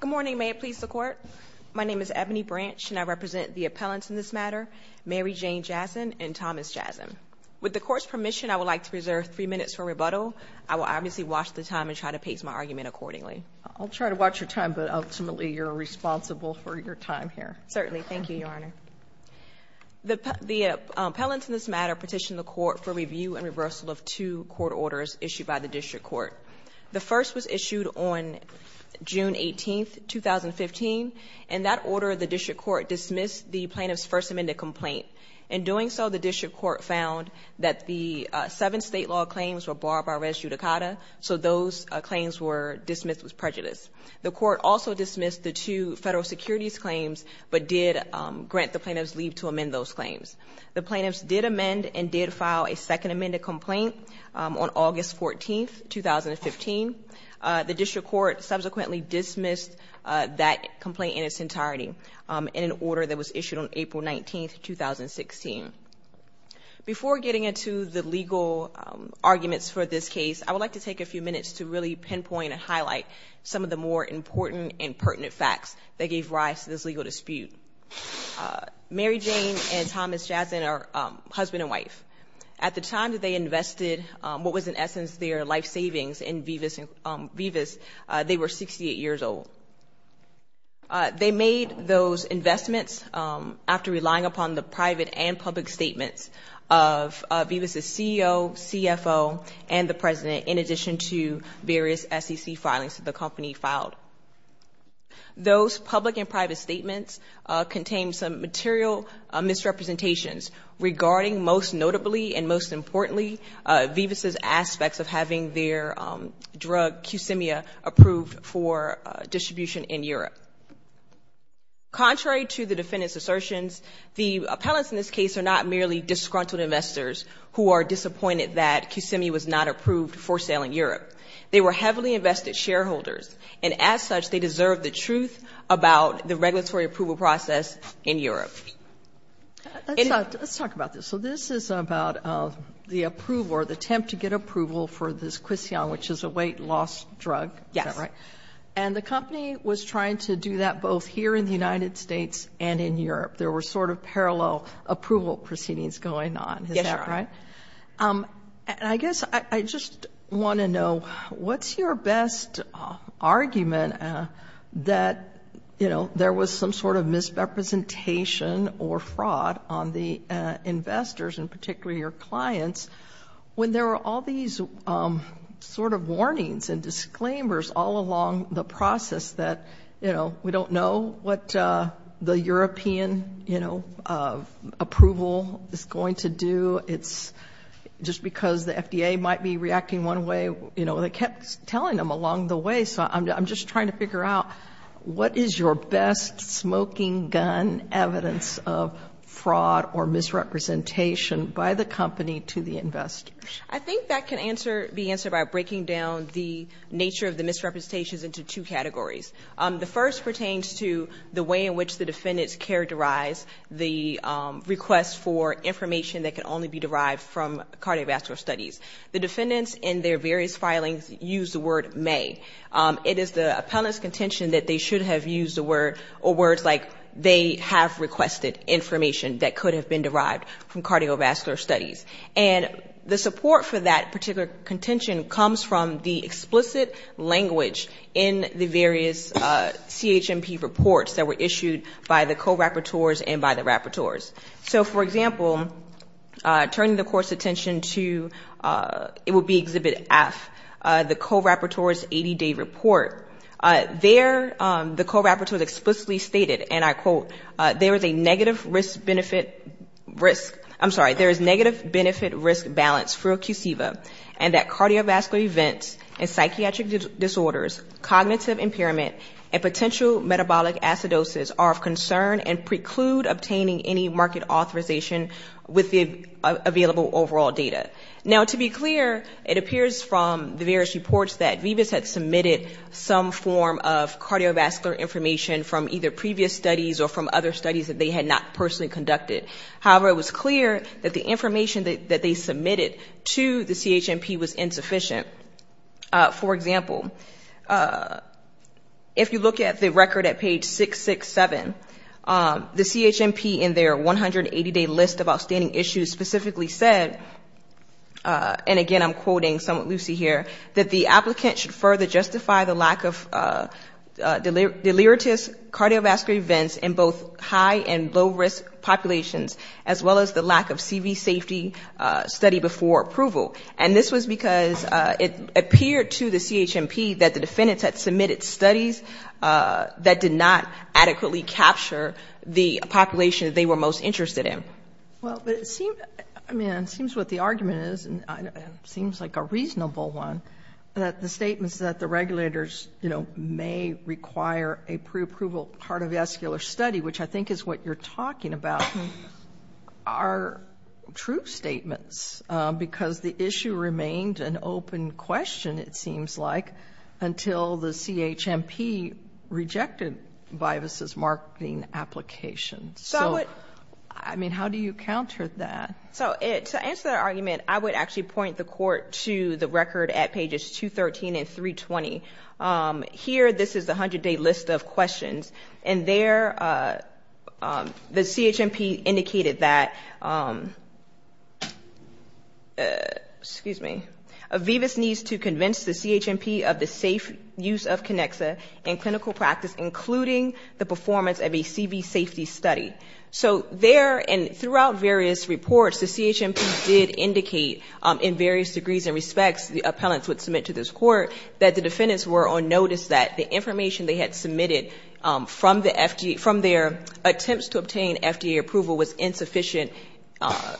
Good morning. May it please the Court. My name is Ebony Branch, and I represent the appellants in this matter, Mary Jane Jasin and Thomas Jasin. With the Court's permission, I would like to reserve three minutes for rebuttal. I will obviously watch the time and try to pace my argument accordingly. I'll try to watch your time, but ultimately you're responsible for your time here. Certainly. Thank you, Your Honor. The appellants in this matter petitioned the Court for review and reversal of two court orders issued by the District Court. The first was issued on June 18, 2015, and that order of the District Court dismissed the plaintiff's first amended complaint. In doing so, the District Court found that the seven state law claims were barred by res judicata, so those claims were dismissed with prejudice. The Court also dismissed the two federal securities claims, but did grant the plaintiff's leave to amend those claims. The plaintiffs did amend and did file a second amended complaint on August 14, 2015. The District Court subsequently dismissed that complaint in its entirety in an order that was issued on April 19, 2016. Before getting into the legal arguments for this case, I would like to take a few minutes to really pinpoint and highlight some of the more important and pertinent facts that gave rise to this legal dispute. Mary Jane and Thomas Jasin are husband and wife. At the time that they invested what was in essence their life savings in Vivas, they were 68 years old. They made those investments after relying upon the private and public statements of Vivas' CEO, CFO, and the President in addition to various SEC filings that the company filed. Those public and private statements contained some material misrepresentations regarding most notably and most importantly Vivas' aspects of having their drug Qsimia approved for distribution in Europe. Contrary to the defendant's assertions, the appellants in this case are not merely disgruntled investors who are disappointed that Qsimia was not approved for sale in Europe. They were heavily invested shareholders and as such they deserve the truth about the about the approval or the attempt to get approval for this Qsimia, which is a weight-loss drug. And the company was trying to do that both here in the United States and in Europe. There were sort of parallel approval proceedings going on. I guess I just want to know what's your best argument that you know there was some sort of misrepresentation or fraud on the your clients when there were all these sort of warnings and disclaimers all along the process that you know we don't know what the European you know approval is going to do. It's just because the FDA might be reacting one way you know they kept telling them along the way so I'm just trying to figure out what is your best smoking gun evidence of fraud or misrepresentation by the company to the investors. I think that can answer the answer by breaking down the nature of the misrepresentations into two categories. The first pertains to the way in which the defendants characterize the request for information that can only be derived from cardiovascular studies. The defendants in their various filings use the word may. It is the appellant's contention that they should have used the word or words like they have requested information that could have been derived from cardiovascular studies. And the support for that particular contention comes from the explicit language in the various CHMP reports that were issued by the co-rapporteurs and by the rapporteurs. So for example, turning the court's attention to it will be Exhibit F, the co-rapporteurs explicitly stated, and I quote, there is a negative risk benefit risk, I'm sorry, there is negative benefit risk balance for QCIVA and that cardiovascular events and psychiatric disorders, cognitive impairment and potential metabolic acidosis are of concern and preclude obtaining any market authorization with the available overall data. Now to be clear, it appears from the various reports that Vivas had submitted some form of cardiovascular information from either previous studies or from other studies that they had not personally conducted. However, it was clear that the information that they submitted to the CHMP was insufficient. For example, if you look at the record at page 667, the CHMP in their 180-day list of outstanding issues specifically said, and again I'm quoting somewhat loosely here, that the applicant should further justify the lack of delirious cardiovascular events in both high and low risk populations, as well as the lack of CV safety study before approval. And this was because it appeared to the CHMP that the defendants had submitted studies that did not adequately capture the population they were most interested in. Well, but it seems, I mean, it seems what the argument is, and it seems like a reasonable one, that the statements that the regulators, you know, may require a pre-approval cardiovascular study, which I think is what you're talking about, are true statements because the issue remained an open question, it seems like, until the CHMP rejected Vivas' marketing application. So, I mean, how do you counter that? So, to answer that argument, I would actually point the court to the record at pages 213 and 320. Here, this is the 100-day list of questions, and there the CHMP indicated that, excuse me, Vivas needs to convince the CHMP of the safe use of Conexa in clinical practice, including the performance of a CV safety study. So there, and throughout various reports, the CHMP did indicate in various degrees and respects the appellants would submit to this court that the defendants were on notice that the information they had submitted from the FDA, from their attempts to obtain FDA approval was insufficient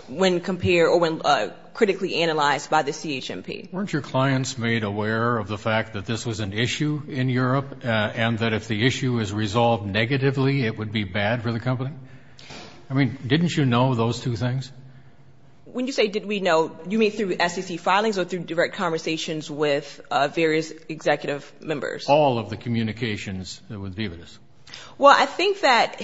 when compared or when critically analyzed by the CHMP. Weren't your clients made aware of the fact that this was an issue in Europe, and that if the issue is resolved negatively, it would be bad for the company? I mean, didn't you know those two things? When you say did we know, you mean through SEC filings or through direct conversations with various executive members? All of the communications with Vivas. Well, I think that,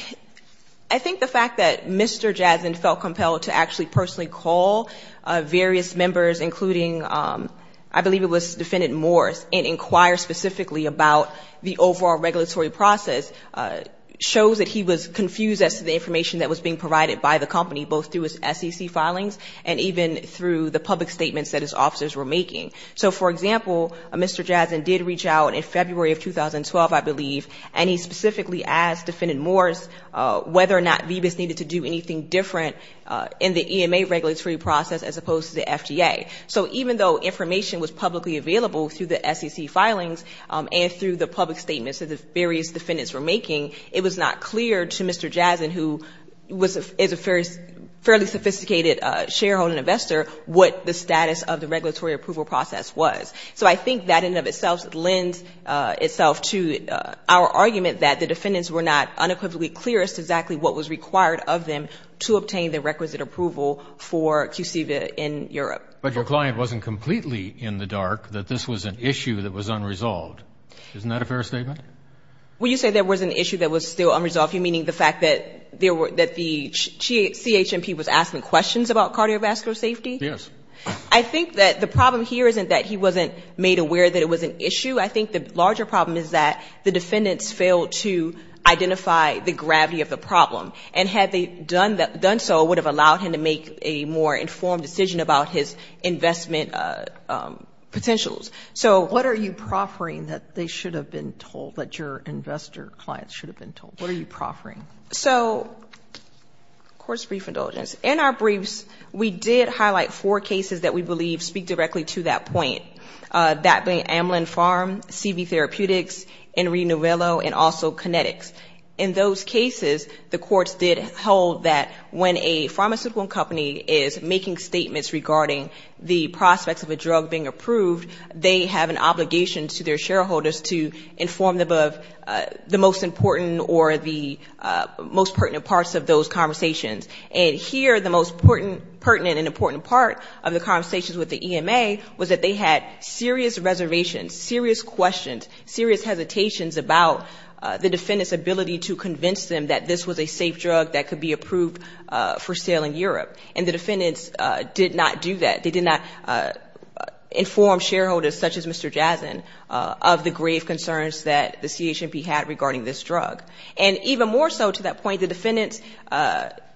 I think the fact that Mr. Jazin felt compelled to actually personally call various members, including, I believe it was Defendant Morris, and inquire specifically about the overall regulatory process, shows that he was confused as to the information that was being provided by the company, both through his SEC filings and through the public statements that the various defendants were making. It was not clear to Mr. Jazin, who is a fairly sophisticated shareholder investor, what the status of the regulatory approval process was. So I think that in and of itself lends itself to our argument that the defendants were not unequivocally clear as to exactly what was required of them to obtain the requisite approval for QCV in Europe. But your client wasn't completely in the dark that this was an issue that was unresolved. Isn't that a fair statement? Well, you say there was an issue that was still unresolved, meaning the fact that the CHMP was asking questions about cardiovascular safety? Yes. I think that the problem here isn't that he wasn't made aware that it was an issue. I think the larger problem is that the defendants failed to identify the gravity of the problem. And had they done so, it would have allowed him to make a more informed decision, but your investor client should have been told. What are you proffering? So, court's brief indulgence. In our briefs, we did highlight four cases that we believe speak directly to that point. That being Amlin Farm, CV Therapeutics, Enri Novello, and also Kinetics. In those cases, the courts did hold that when a pharmaceutical company is making statements regarding the prospects of a drug being approved, they have an overview of the most important or the most pertinent parts of those conversations. And here, the most pertinent and important part of the conversations with the EMA was that they had serious reservations, serious questions, serious hesitations about the defendant's ability to convince them that this was a safe drug that could be approved for sale in Europe. And the defendants did not do that. They did not inform shareholders, such as Mr. Jazen, of the grave concerns that the CHMP had regarding this drug. And even more so to that point, the defendants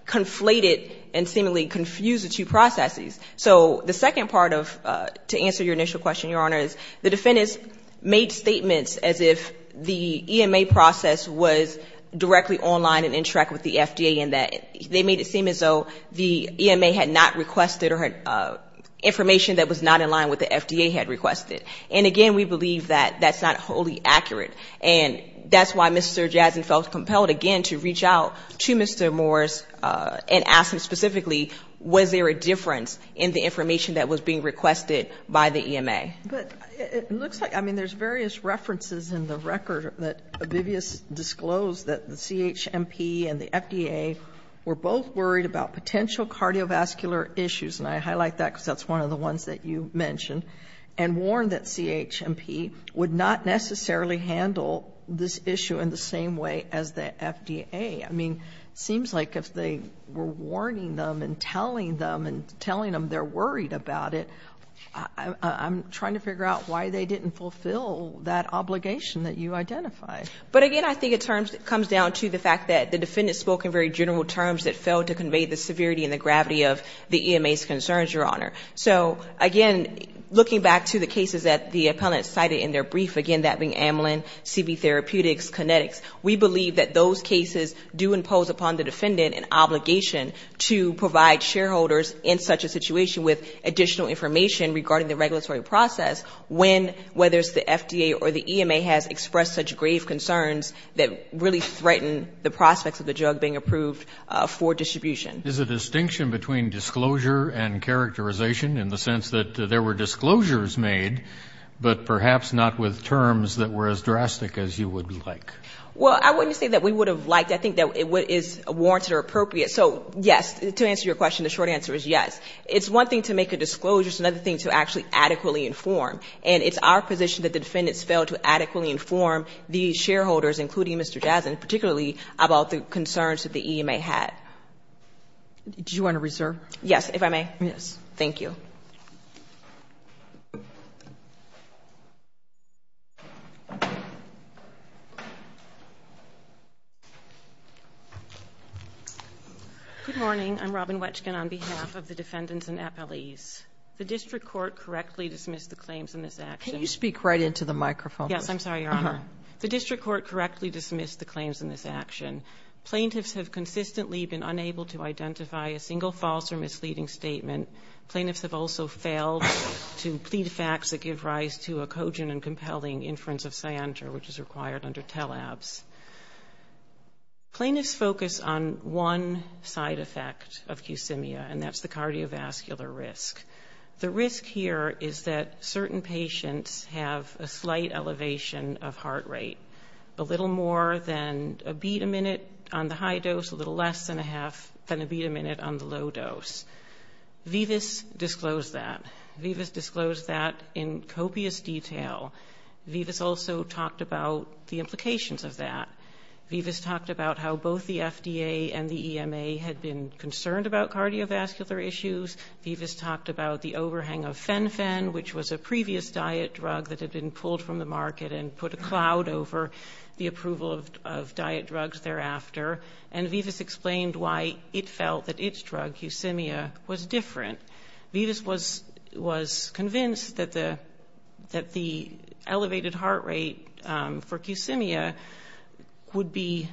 conflated and seemingly confused the two processes. So the second part of, to answer your initial question, your Honor, is the defendants made statements as if the EMA process was directly online and in track with the FDA, and that they made it seem as though the EMA had not requested or had requested information that was not in line with what the FDA had requested. And again, we believe that that's not wholly accurate. And that's why Mr. Jazen felt compelled again to reach out to Mr. Morris and ask him specifically, was there a difference in the information that was being requested by the EMA? But it looks like, I mean, there's various references in the record that Obivius disclosed that the CHMP and the FDA were both worried about potential cardiovascular issues, and I highlight that because that's one of the ones that you mentioned, and warned that CHMP would not necessarily handle this issue in the same way as the FDA. I mean, it seems like if they were warning them and telling them and telling them they're worried about it, I'm trying to figure out why they didn't fulfill that obligation that you identified. But again, I think it comes down to the fact that the defendant spoke in very general terms that failed to convey the severity and the gravity of the EMA's concerns, Your Honor. So again, looking back to the cases that the appellant cited in their brief, again, that being amylin, CB therapeutics, kinetics, we believe that those cases do impose upon the defendant an obligation to provide shareholders in such a situation with additional information regarding the regulatory process when, whether it's the FDA or the EMA, has expressed such grave concerns that really threaten the prospects of the drug being approved for distribution. Is a distinction between disclosure and characterization in the sense that there were disclosures made, but perhaps not with terms that were as drastic as you would like? Well, I wouldn't say that we would have liked. I think that what is warranted or appropriate. So, yes, to answer your question, the short answer is yes. It's one thing to make a disclosure. It's another thing to actually adequately inform. And it's our position that the defendants failed to adequately inform the shareholders, including Mr. Jazdin, particularly about the concerns that the EMA had. Do you want to reserve? Yes, if I may. Yes, thank you. Good morning. I'm Robin Wetchkin on behalf of the defendants and appellees. Can you speak right into the microphone? Yes, I'm sorry, Your Honor. The district court correctly dismissed the claims in this action. Plaintiffs have consistently been unable to identify a single false or misleading statement. Plaintiffs have also failed to plead facts that give rise to a cogent and compelling inference of Cyanter, which is required under TELABS. Plaintiffs focus on one side effect of QSEMIA, and that's the cardiovascular risk. The risk here is that certain patients have a slight elevation of heart rate, a little more than a beat a minute on the high dose, a little less than a beat a minute on the low dose. Vivas disclosed that. Vivas disclosed that in copious detail. Vivas also talked about the implications of that. Vivas talked about how both the FDA and the EMA had been concerned about cardiovascular issues. Vivas talked about the overhang of FENFEN, which was a previous diet drug that had been pulled from the market and put a cloud over the approval of diet drugs thereafter. And Vivas explained why it felt that its drug, QSEMIA, was different. Vivas was convinced that the elevated heart rate for QSEMIA was not a good idea. QSEMIA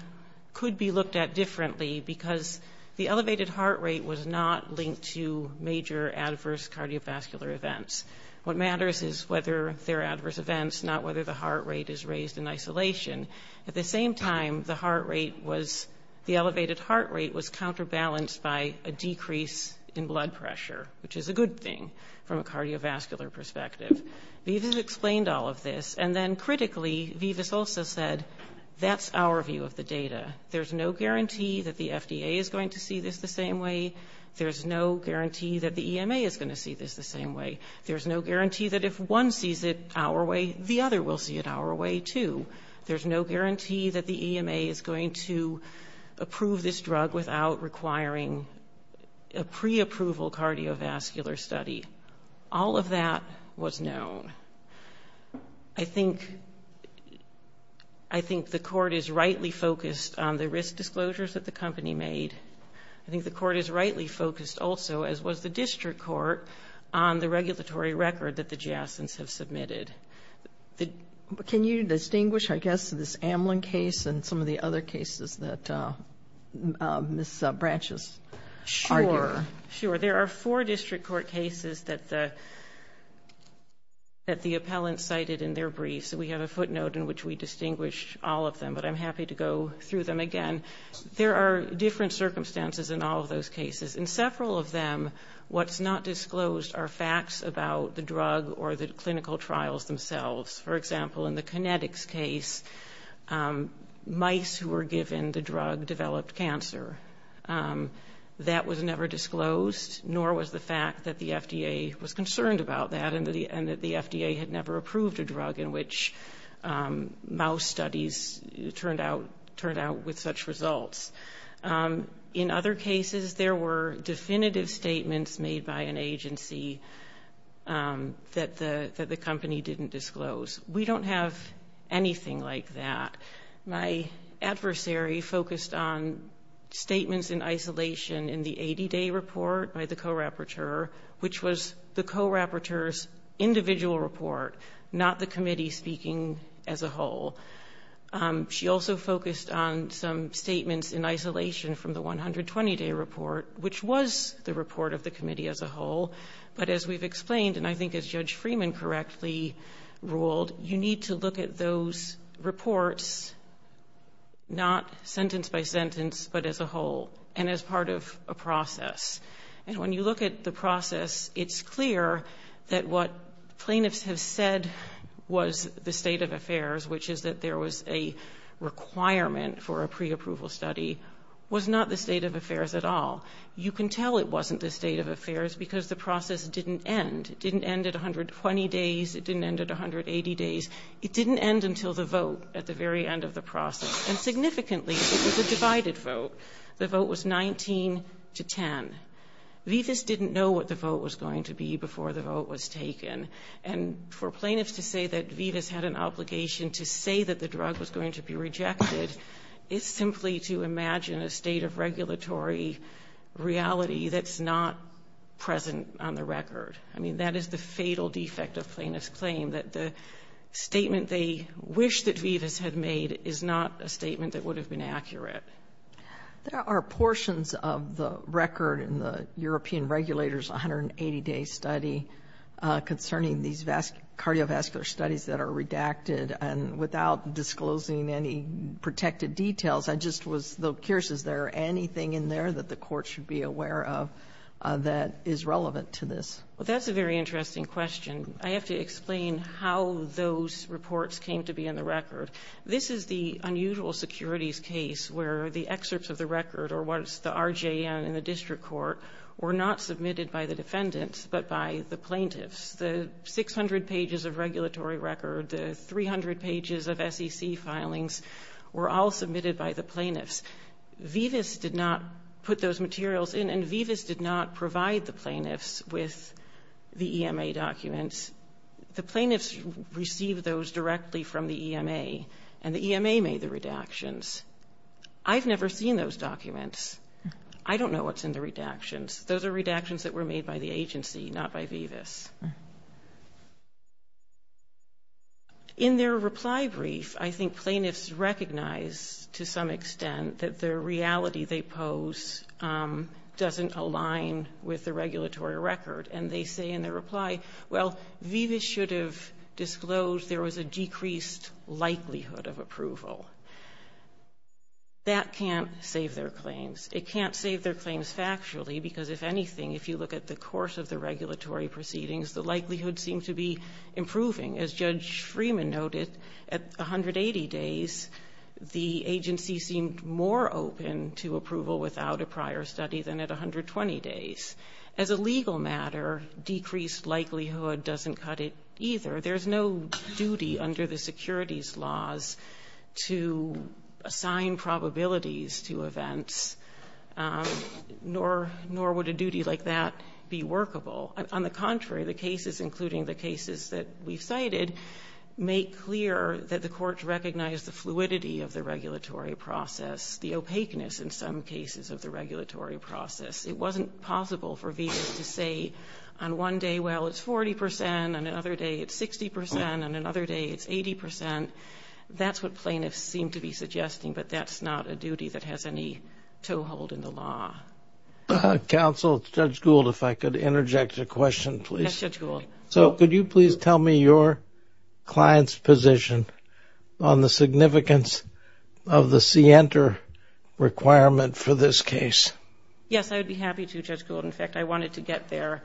could be looked at differently because the elevated heart rate was not linked to major adverse cardiovascular events. What matters is whether they're adverse events, not whether the heart rate is raised in isolation. At the same time, the elevated heart rate was counterbalanced by a decrease in blood pressure, which is a good thing from a cardiovascular perspective. Vivas explained all of this, and then critically, Vivas also said, that's our view of the data. There's no guarantee that the FDA is going to see this the same way. There's no guarantee that the EMA is going to see this the same way. There's no guarantee that if one sees it our way, the other will see it our way, too. There's no guarantee that the EMA is going to approve this drug without requiring a preapproval cardiovascular study. All of that was known. I think the court is rightly focused on the risk disclosures that the company made. I think the court is rightly focused also, as was the district court, on the regulatory record that the JASNs have submitted. Can you distinguish, I guess, this Amlin case and some of the other cases that Ms. Branches argued? Sure. There are four district court cases that the appellant cited in their briefs. We have a footnote in which we distinguish all of them, but I'm happy to go through them again. There are different circumstances in all of those cases. In several of them, what's not disclosed are facts about the drug or the clinical trials themselves. For example, in the kinetics case, mice who were given the drug developed cancer. That was never disclosed, nor was the fact that the FDA was concerned about that and that the FDA had never approved a drug in which mouse studies turned out with such results. In other cases, there were definitive statements made by an agency that the company didn't disclose. We don't have anything like that. My adversary focused on statements in isolation in the 80-day report by the co-rapporteur, which was the co-rapporteur's individual report, not the committee speaking as a whole. She also focused on some statements in isolation from the 120-day report, which was the report of the committee as a whole. But as we've explained, and I think as Judge Freeman correctly ruled, you need to look at those reports, not sentence by sentence, but as a whole, and as part of a process. And when you look at the process, it's clear that what plaintiffs have said was the state of affairs, which is that there was a requirement for a pre-approval study, was not the state of affairs at all. You can tell it wasn't the state of affairs because the process didn't end. It didn't end at 120 days, it didn't end at 180 days, it didn't end until the vote at the very end of the process. And significantly, it was a divided vote. The vote was 19 to 10. Vivas didn't know what the vote was going to be before the vote was taken. And for plaintiffs to say that Vivas had an obligation to say that the drug was going to be rejected, is simply to imagine a state of regulatory reality that's not present on the record. I mean, that is the fatal defect of plaintiff's claim, that the statement they wish that Vivas had made is not a statement that would have been accurate. There are portions of the record in the European Regulator's 180-day study concerning these cardiovascular studies that are redacted, and without disclosing any protected details, I just was curious, is there anything in there that the court should be aware of that is relevant to this? That's a very interesting question. I have to explain how those reports came to be in the record. This is the unusual securities case where the excerpts of the record, or what is the RJN in the district court, were not submitted by the defendants, but by the plaintiffs. The 600 pages of regulatory record, the 300 pages of SEC filings, were all submitted by the plaintiffs. Vivas did not put those materials in, and Vivas did not provide the plaintiffs with the documents from the EMA. The plaintiffs received those directly from the EMA, and the EMA made the redactions. I've never seen those documents. I don't know what's in the redactions. Those are redactions that were made by the agency, not by Vivas. In their reply brief, I think plaintiffs recognized, to some extent, that the reality they pose doesn't align with the regulatory record, and they say in their reply, well, Vivas should have disclosed there was a decreased likelihood of approval. That can't save their claims. It can't save their claims factually, because if anything, if you look at the course of the regulatory proceedings, the likelihood seemed to be improving. As Judge Freeman noted, at 180 days, the agency seemed more open to approval without a prior study than at 120 days. As a legal matter, decreased likelihood doesn't cut it either. There's no duty under the securities laws to assign probabilities to events, nor would a duty like that be workable. On the contrary, the cases, including the cases that we've cited, make clear that the courts recognize the fluidity of the regulatory process, the opaqueness in some cases of the regulatory process. It wasn't possible for Vivas to say on one day, well, it's 40 percent, on another day it's 60 percent, on another day it's 80 percent. That's what plaintiffs seem to be suggesting, but that's not a duty that has any toehold in the law. Judge Gould, if I could interject a question, please. Yes, Judge Gould. So could you please tell me your client's position on the significance of the Cienter requirement for this case? Yes, I would be happy to, Judge Gould. In fact, I wanted to get there.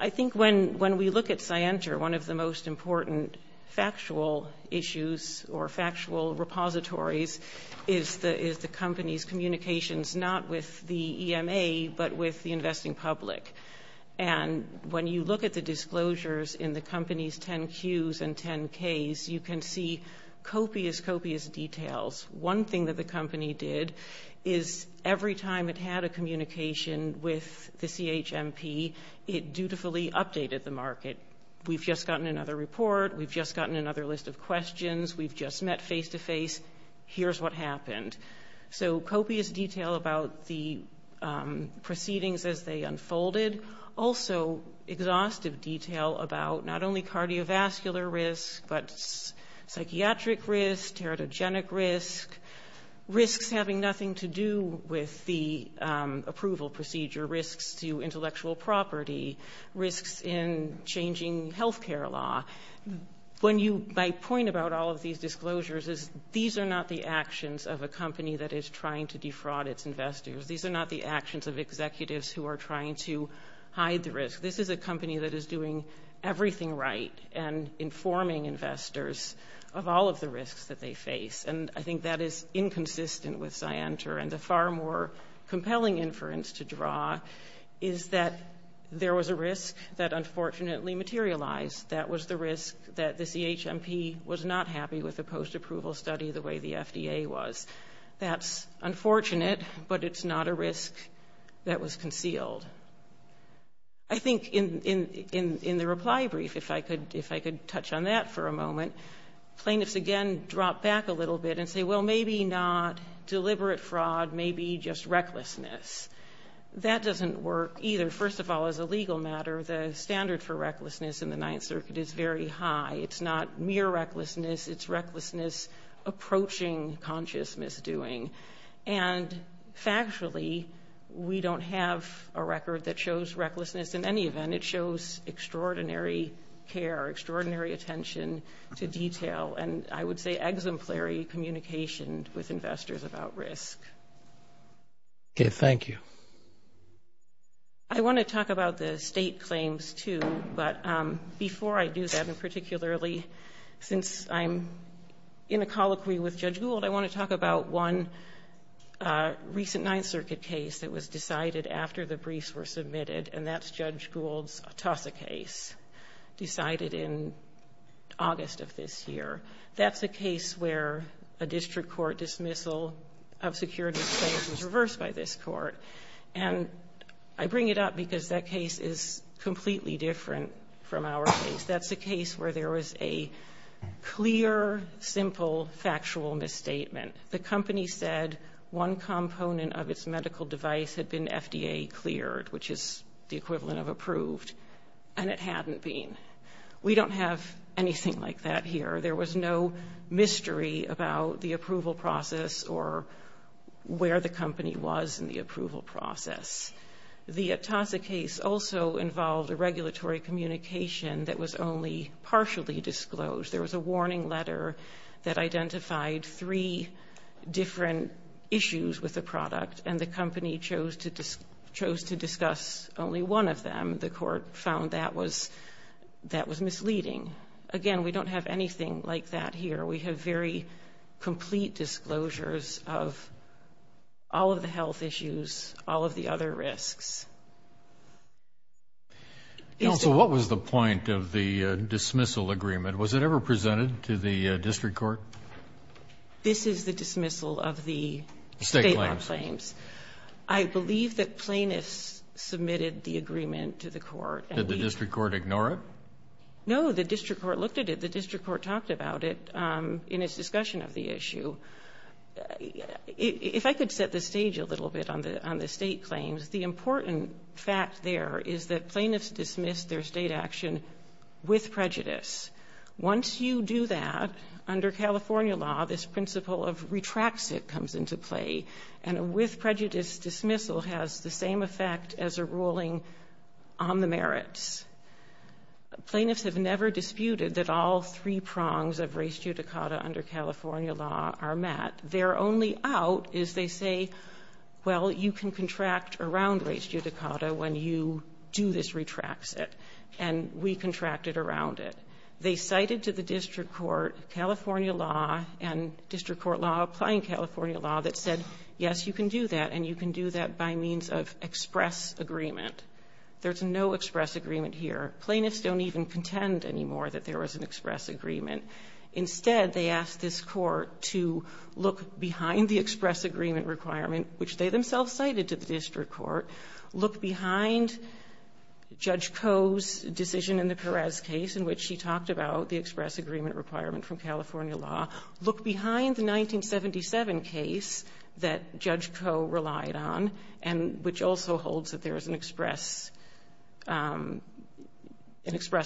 I think when we look at Cienter, one of the most important factual issues or factual repositories is the company's communications, not with the EMA, but with the investing public. And when you look at the disclosures in the company's 10-Qs and 10-Ks, you can see copious, copious details. One thing that the company did is every time it had a communication with the CHMP, it dutifully updated the market. We've just gotten another report, we've just gotten another list of questions, we've just met face-to-face, here's what happened. So copious detail about the proceedings as they unfolded, also exhaustive detail about not only cardiovascular risk, but psychiatric risk, teratogenic risk, risks having nothing to do with the approval procedure, risks to intellectual property, risks in changing healthcare law. My point about all of these disclosures is these are not the actions of a company that is trying to defraud its investors, these are not the actions of executives who are trying to hide the risk. This is a company that is doing everything right and informing investors of all of the risks that they face. And I think that is inconsistent with Scienter, and the far more compelling inference to draw is that there was a risk that unfortunately materialized, that was the risk that the CHMP was not happy with the post-approval study the way the FDA was. That's unfortunate, but it's not a risk that was concealed. I think in the reply brief, if I could touch on that for a moment, plaintiffs again drop back a little bit and say, well, maybe not deliberate fraud, maybe just recklessness. That doesn't work either. First of all, as a legal matter, the standard for recklessness in the Ninth Circuit is very high. It's not mere recklessness, it's recklessness approaching conscious misdoing. And factually, we don't have a record that shows recklessness in any event. It shows extraordinary care, extraordinary attention to detail, and I would say exemplary communication with investors about risk. Okay, thank you. I want to talk about the state claims too, but before I do that, and particularly since I'm in a colloquy with Judge Gould, I want to talk about one recent Ninth Circuit case that was decided after the briefs were submitted, and that's Judge Gould's TASA case, decided in August of this year. That's a case where a district court dismissal of securities claims was reversed by this court. And I bring it up because that case is completely different from our case. That's a case where there was a clear, simple, factual misstatement. The company said one component of its medical device had been FDA cleared, which is the equivalent of approved, and it hadn't been. We don't have anything like that here. There was no mystery about the approval process or where the company was in the approval process. The TASA case also involved a regulatory communication that was only partially disclosed. There was a warning letter that identified three different issues with the product, and the company chose to discuss only one of them. The court found that was misleading. Again, we don't have anything like that here. We have very complete disclosures of all of the health issues, all of the other risks. Counsel, what was the point of the dismissal agreement? Was it ever presented to the district court? This is the dismissal of the state law claims. I believe that plaintiffs submitted the agreement to the court. Did the district court ignore it? No, the district court looked at it. The district court talked about it in its discussion of the issue. If I could set the stage a little bit on the state claims, the important fact there is that plaintiffs dismissed their state action with prejudice. Once you do that, under California law, this principle of retracts it comes into play, and a with prejudice dismissal has the same effect as a ruling on the merits. Plaintiffs have never disputed that all three prongs of res judicata under California law are met. Their only out is they say, well, you can contract around res judicata when you do this retracts it, and we contracted around it. They cited to the district court California law and district court law applying California law that said, yes, you can do that, and you can do that by means of express agreement. There's no express agreement here. Plaintiffs don't even contend anymore that there was an express agreement. Instead, they asked this court to look behind the express agreement requirement, which they themselves cited to the district court, look behind Judge Koh's decision in the Perez case, in which she talked about the express agreement requirement from California law, look behind the 1977 case that Judge Koh relied on, which also holds that there is an express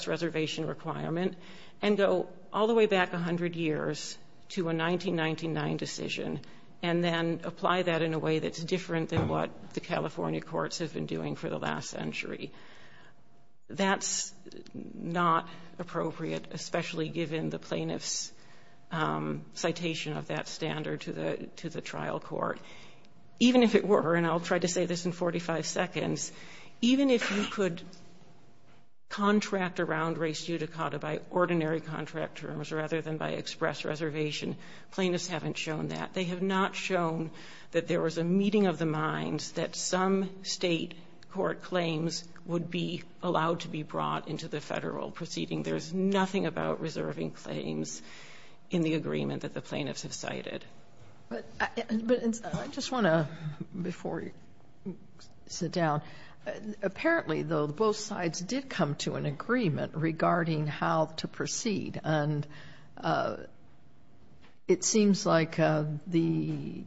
reservation requirement, and go all the way back 100 years to a 1999 decision, and then apply that in a way that's different than what the California courts have been doing for the last century. That's not appropriate, especially given the plaintiff's citation of that standard to the trial court. Even if it were, and I'll try to say this in 45 seconds, even if you could contract around res judicata by ordinary contract terms rather than by express reservation, plaintiffs haven't shown that. They have not shown that there was a meeting of the minds that some state court claims would be allowed to be brought into the federal proceeding. There's nothing about reserving claims in the agreement that the plaintiffs have cited. I just want to, before you sit down, apparently, though, both sides did come to an agreement regarding how to proceed. It seems like your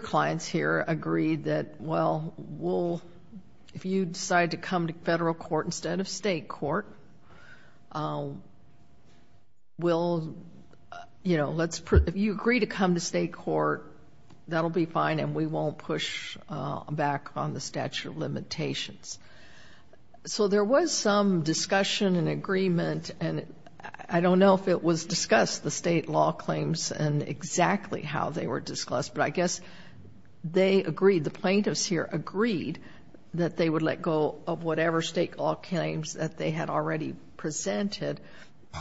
clients here agreed that, well, if you decide to come to federal court instead of state court, we'll, you know, if you agree to come to state court, that'll be fine, and we won't push back on the statute of limitations. So there was some discussion and agreement, and I don't know if it was discussed, the state law claims, and exactly how they were discussed, but I guess they agreed, the plaintiffs here agreed, that they would let go of whatever state law claims that they had already presented.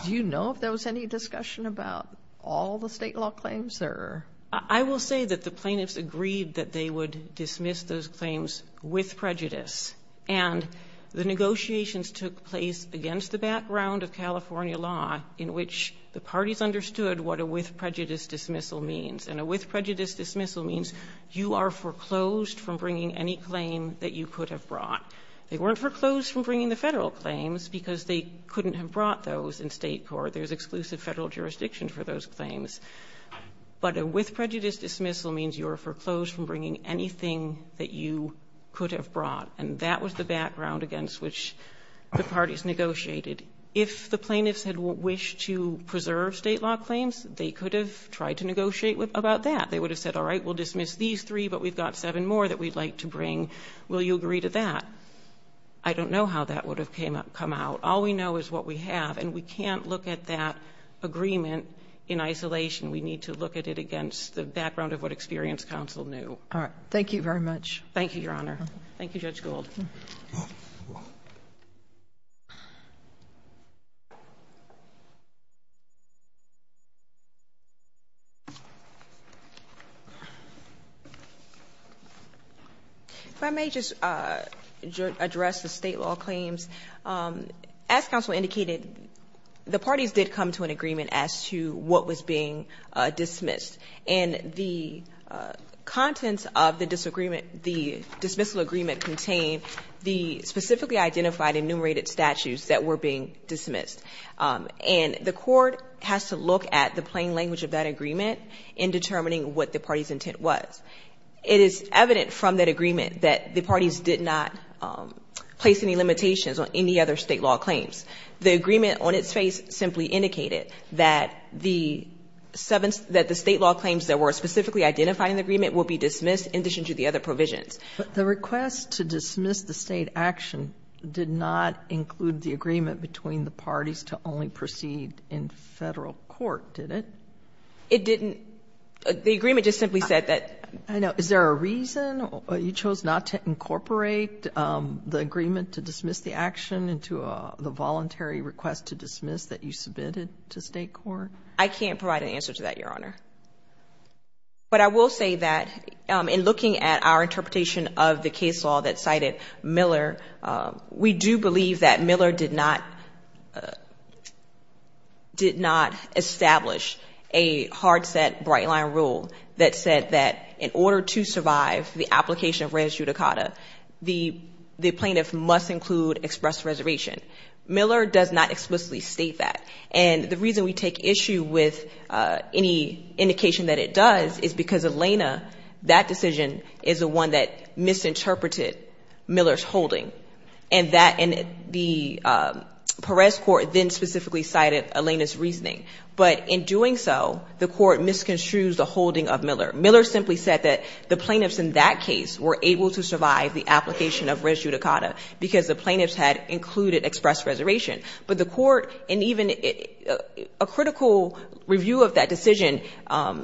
Do you know if there was any discussion about all the state law claims there? I will say that the plaintiffs agreed that they would dismiss those claims with prejudice, and the negotiations took place against the background of California law, in which the parties understood what a with prejudice dismissal means, and a with prejudice dismissal means you are foreclosed from bringing any claim that you could have brought. They weren't foreclosed from bringing the federal claims because they couldn't have brought those in state court. There's exclusive federal jurisdiction for those claims. But a with prejudice dismissal means you are foreclosed from bringing anything that you could have brought, and that was the background against which the parties negotiated. If the plaintiffs had wished to preserve state law claims, they could have tried to negotiate about that. They would have said, all right, we'll dismiss these three, but we've got seven more that we'd like to bring. Will you agree to that? I don't know how that would have come out. All we know is what we have, and we can't look at that agreement in isolation. We need to look at it against the background of what experience counsel knew. All right. Thank you very much. Thank you, Your Honor. If I may just address the state law claims. As counsel indicated, the parties did come to an agreement as to what was being dismissed, and the contents of the disagreement, the dismissal agreement, contained the specifically identified enumerated statutes that were being dismissed. And the court has to look at the plain language of that agreement in determining what the party's intent was. It is evident from that agreement that the parties did not place any limitations on any other state law claims. The agreement on its face simply indicated that the seven, that the state law claims that were specifically identified in the agreement will be dismissed in addition to the other provisions. But the request to dismiss the state action did not include the agreement between the parties to only proceed in Federal court, did it? It didn't. The agreement just simply said that. I know. Is there a reason you chose not to incorporate the agreement to dismiss the action into the voluntary request to dismiss that you submitted to State court? I can't provide an answer to that, Your Honor. But I will say that in looking at our interpretation of the case law that cited Miller, we do believe that Miller did not, did not establish a hard set bright line rule that said that in order to survive the application of res judicata, the plaintiff must include express reservation. Miller does not explicitly state that. And the reason we take issue with any indication that it does is because Elena, that decision is the one that misinterpreted Miller's holding. And that, and the Perez court then specifically cited Elena's reasoning. But in doing so, the court misconstrued the holding of Miller. Miller simply said that the plaintiffs in that case were able to survive the application of res judicata because the plaintiffs had included express reservation. But the court, and even a critical review of that decision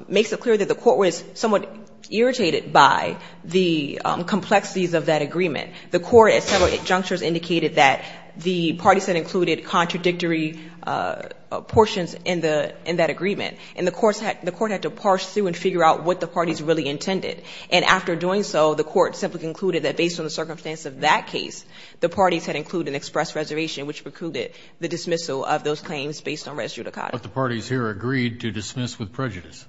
makes it clear that the court was somewhat irritated by the complexities of that agreement. The court at several junctures indicated that the parties that included contradictory portions in the, in that agreement. And the courts had, the court had to parse through and figure out what the parties really intended. And after doing so, the court simply concluded that based on the circumstance of that case, the parties had included express reservation, which precluded the dismissal of those claims based on res judicata. But the parties here agreed to dismiss with prejudice.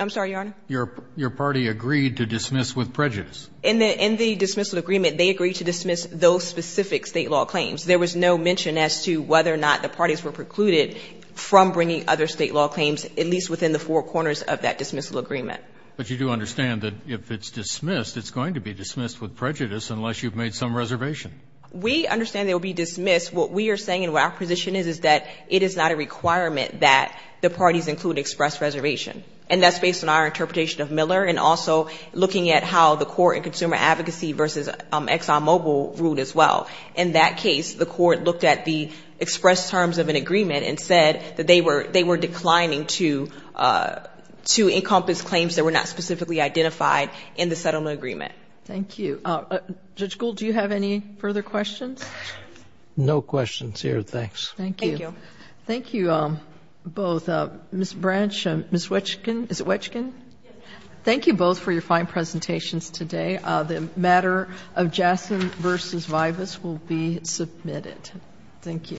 I'm sorry, Your Honor? Your party agreed to dismiss with prejudice. In the dismissal agreement, they agreed to dismiss those specific State law claims. There was no mention as to whether or not the parties were precluded from bringing other State law claims, at least within the four corners of that dismissal agreement. But you do understand that if it's dismissed, it's going to be dismissed with prejudice unless you've made some reservation. We understand they will be dismissed. What we are saying and what our position is, is that it is not a requirement that the parties include express reservation. And that's based on our interpretation of Miller and also looking at how the court and consumer advocacy versus Exxon Mobil ruled as well. In that case, the court looked at the express terms of an agreement and said that they were declining to encompass claims that were not specifically identified in the settlement agreement. Thank you. Judge Gould, do you have any further questions? No questions here, thanks. Thank you both. Ms. Branch, Ms. Wetchkin, is it Wetchkin? Thank you both for your fine presentations today. The matter of Jassen v. Vivas will be submitted. Thank you.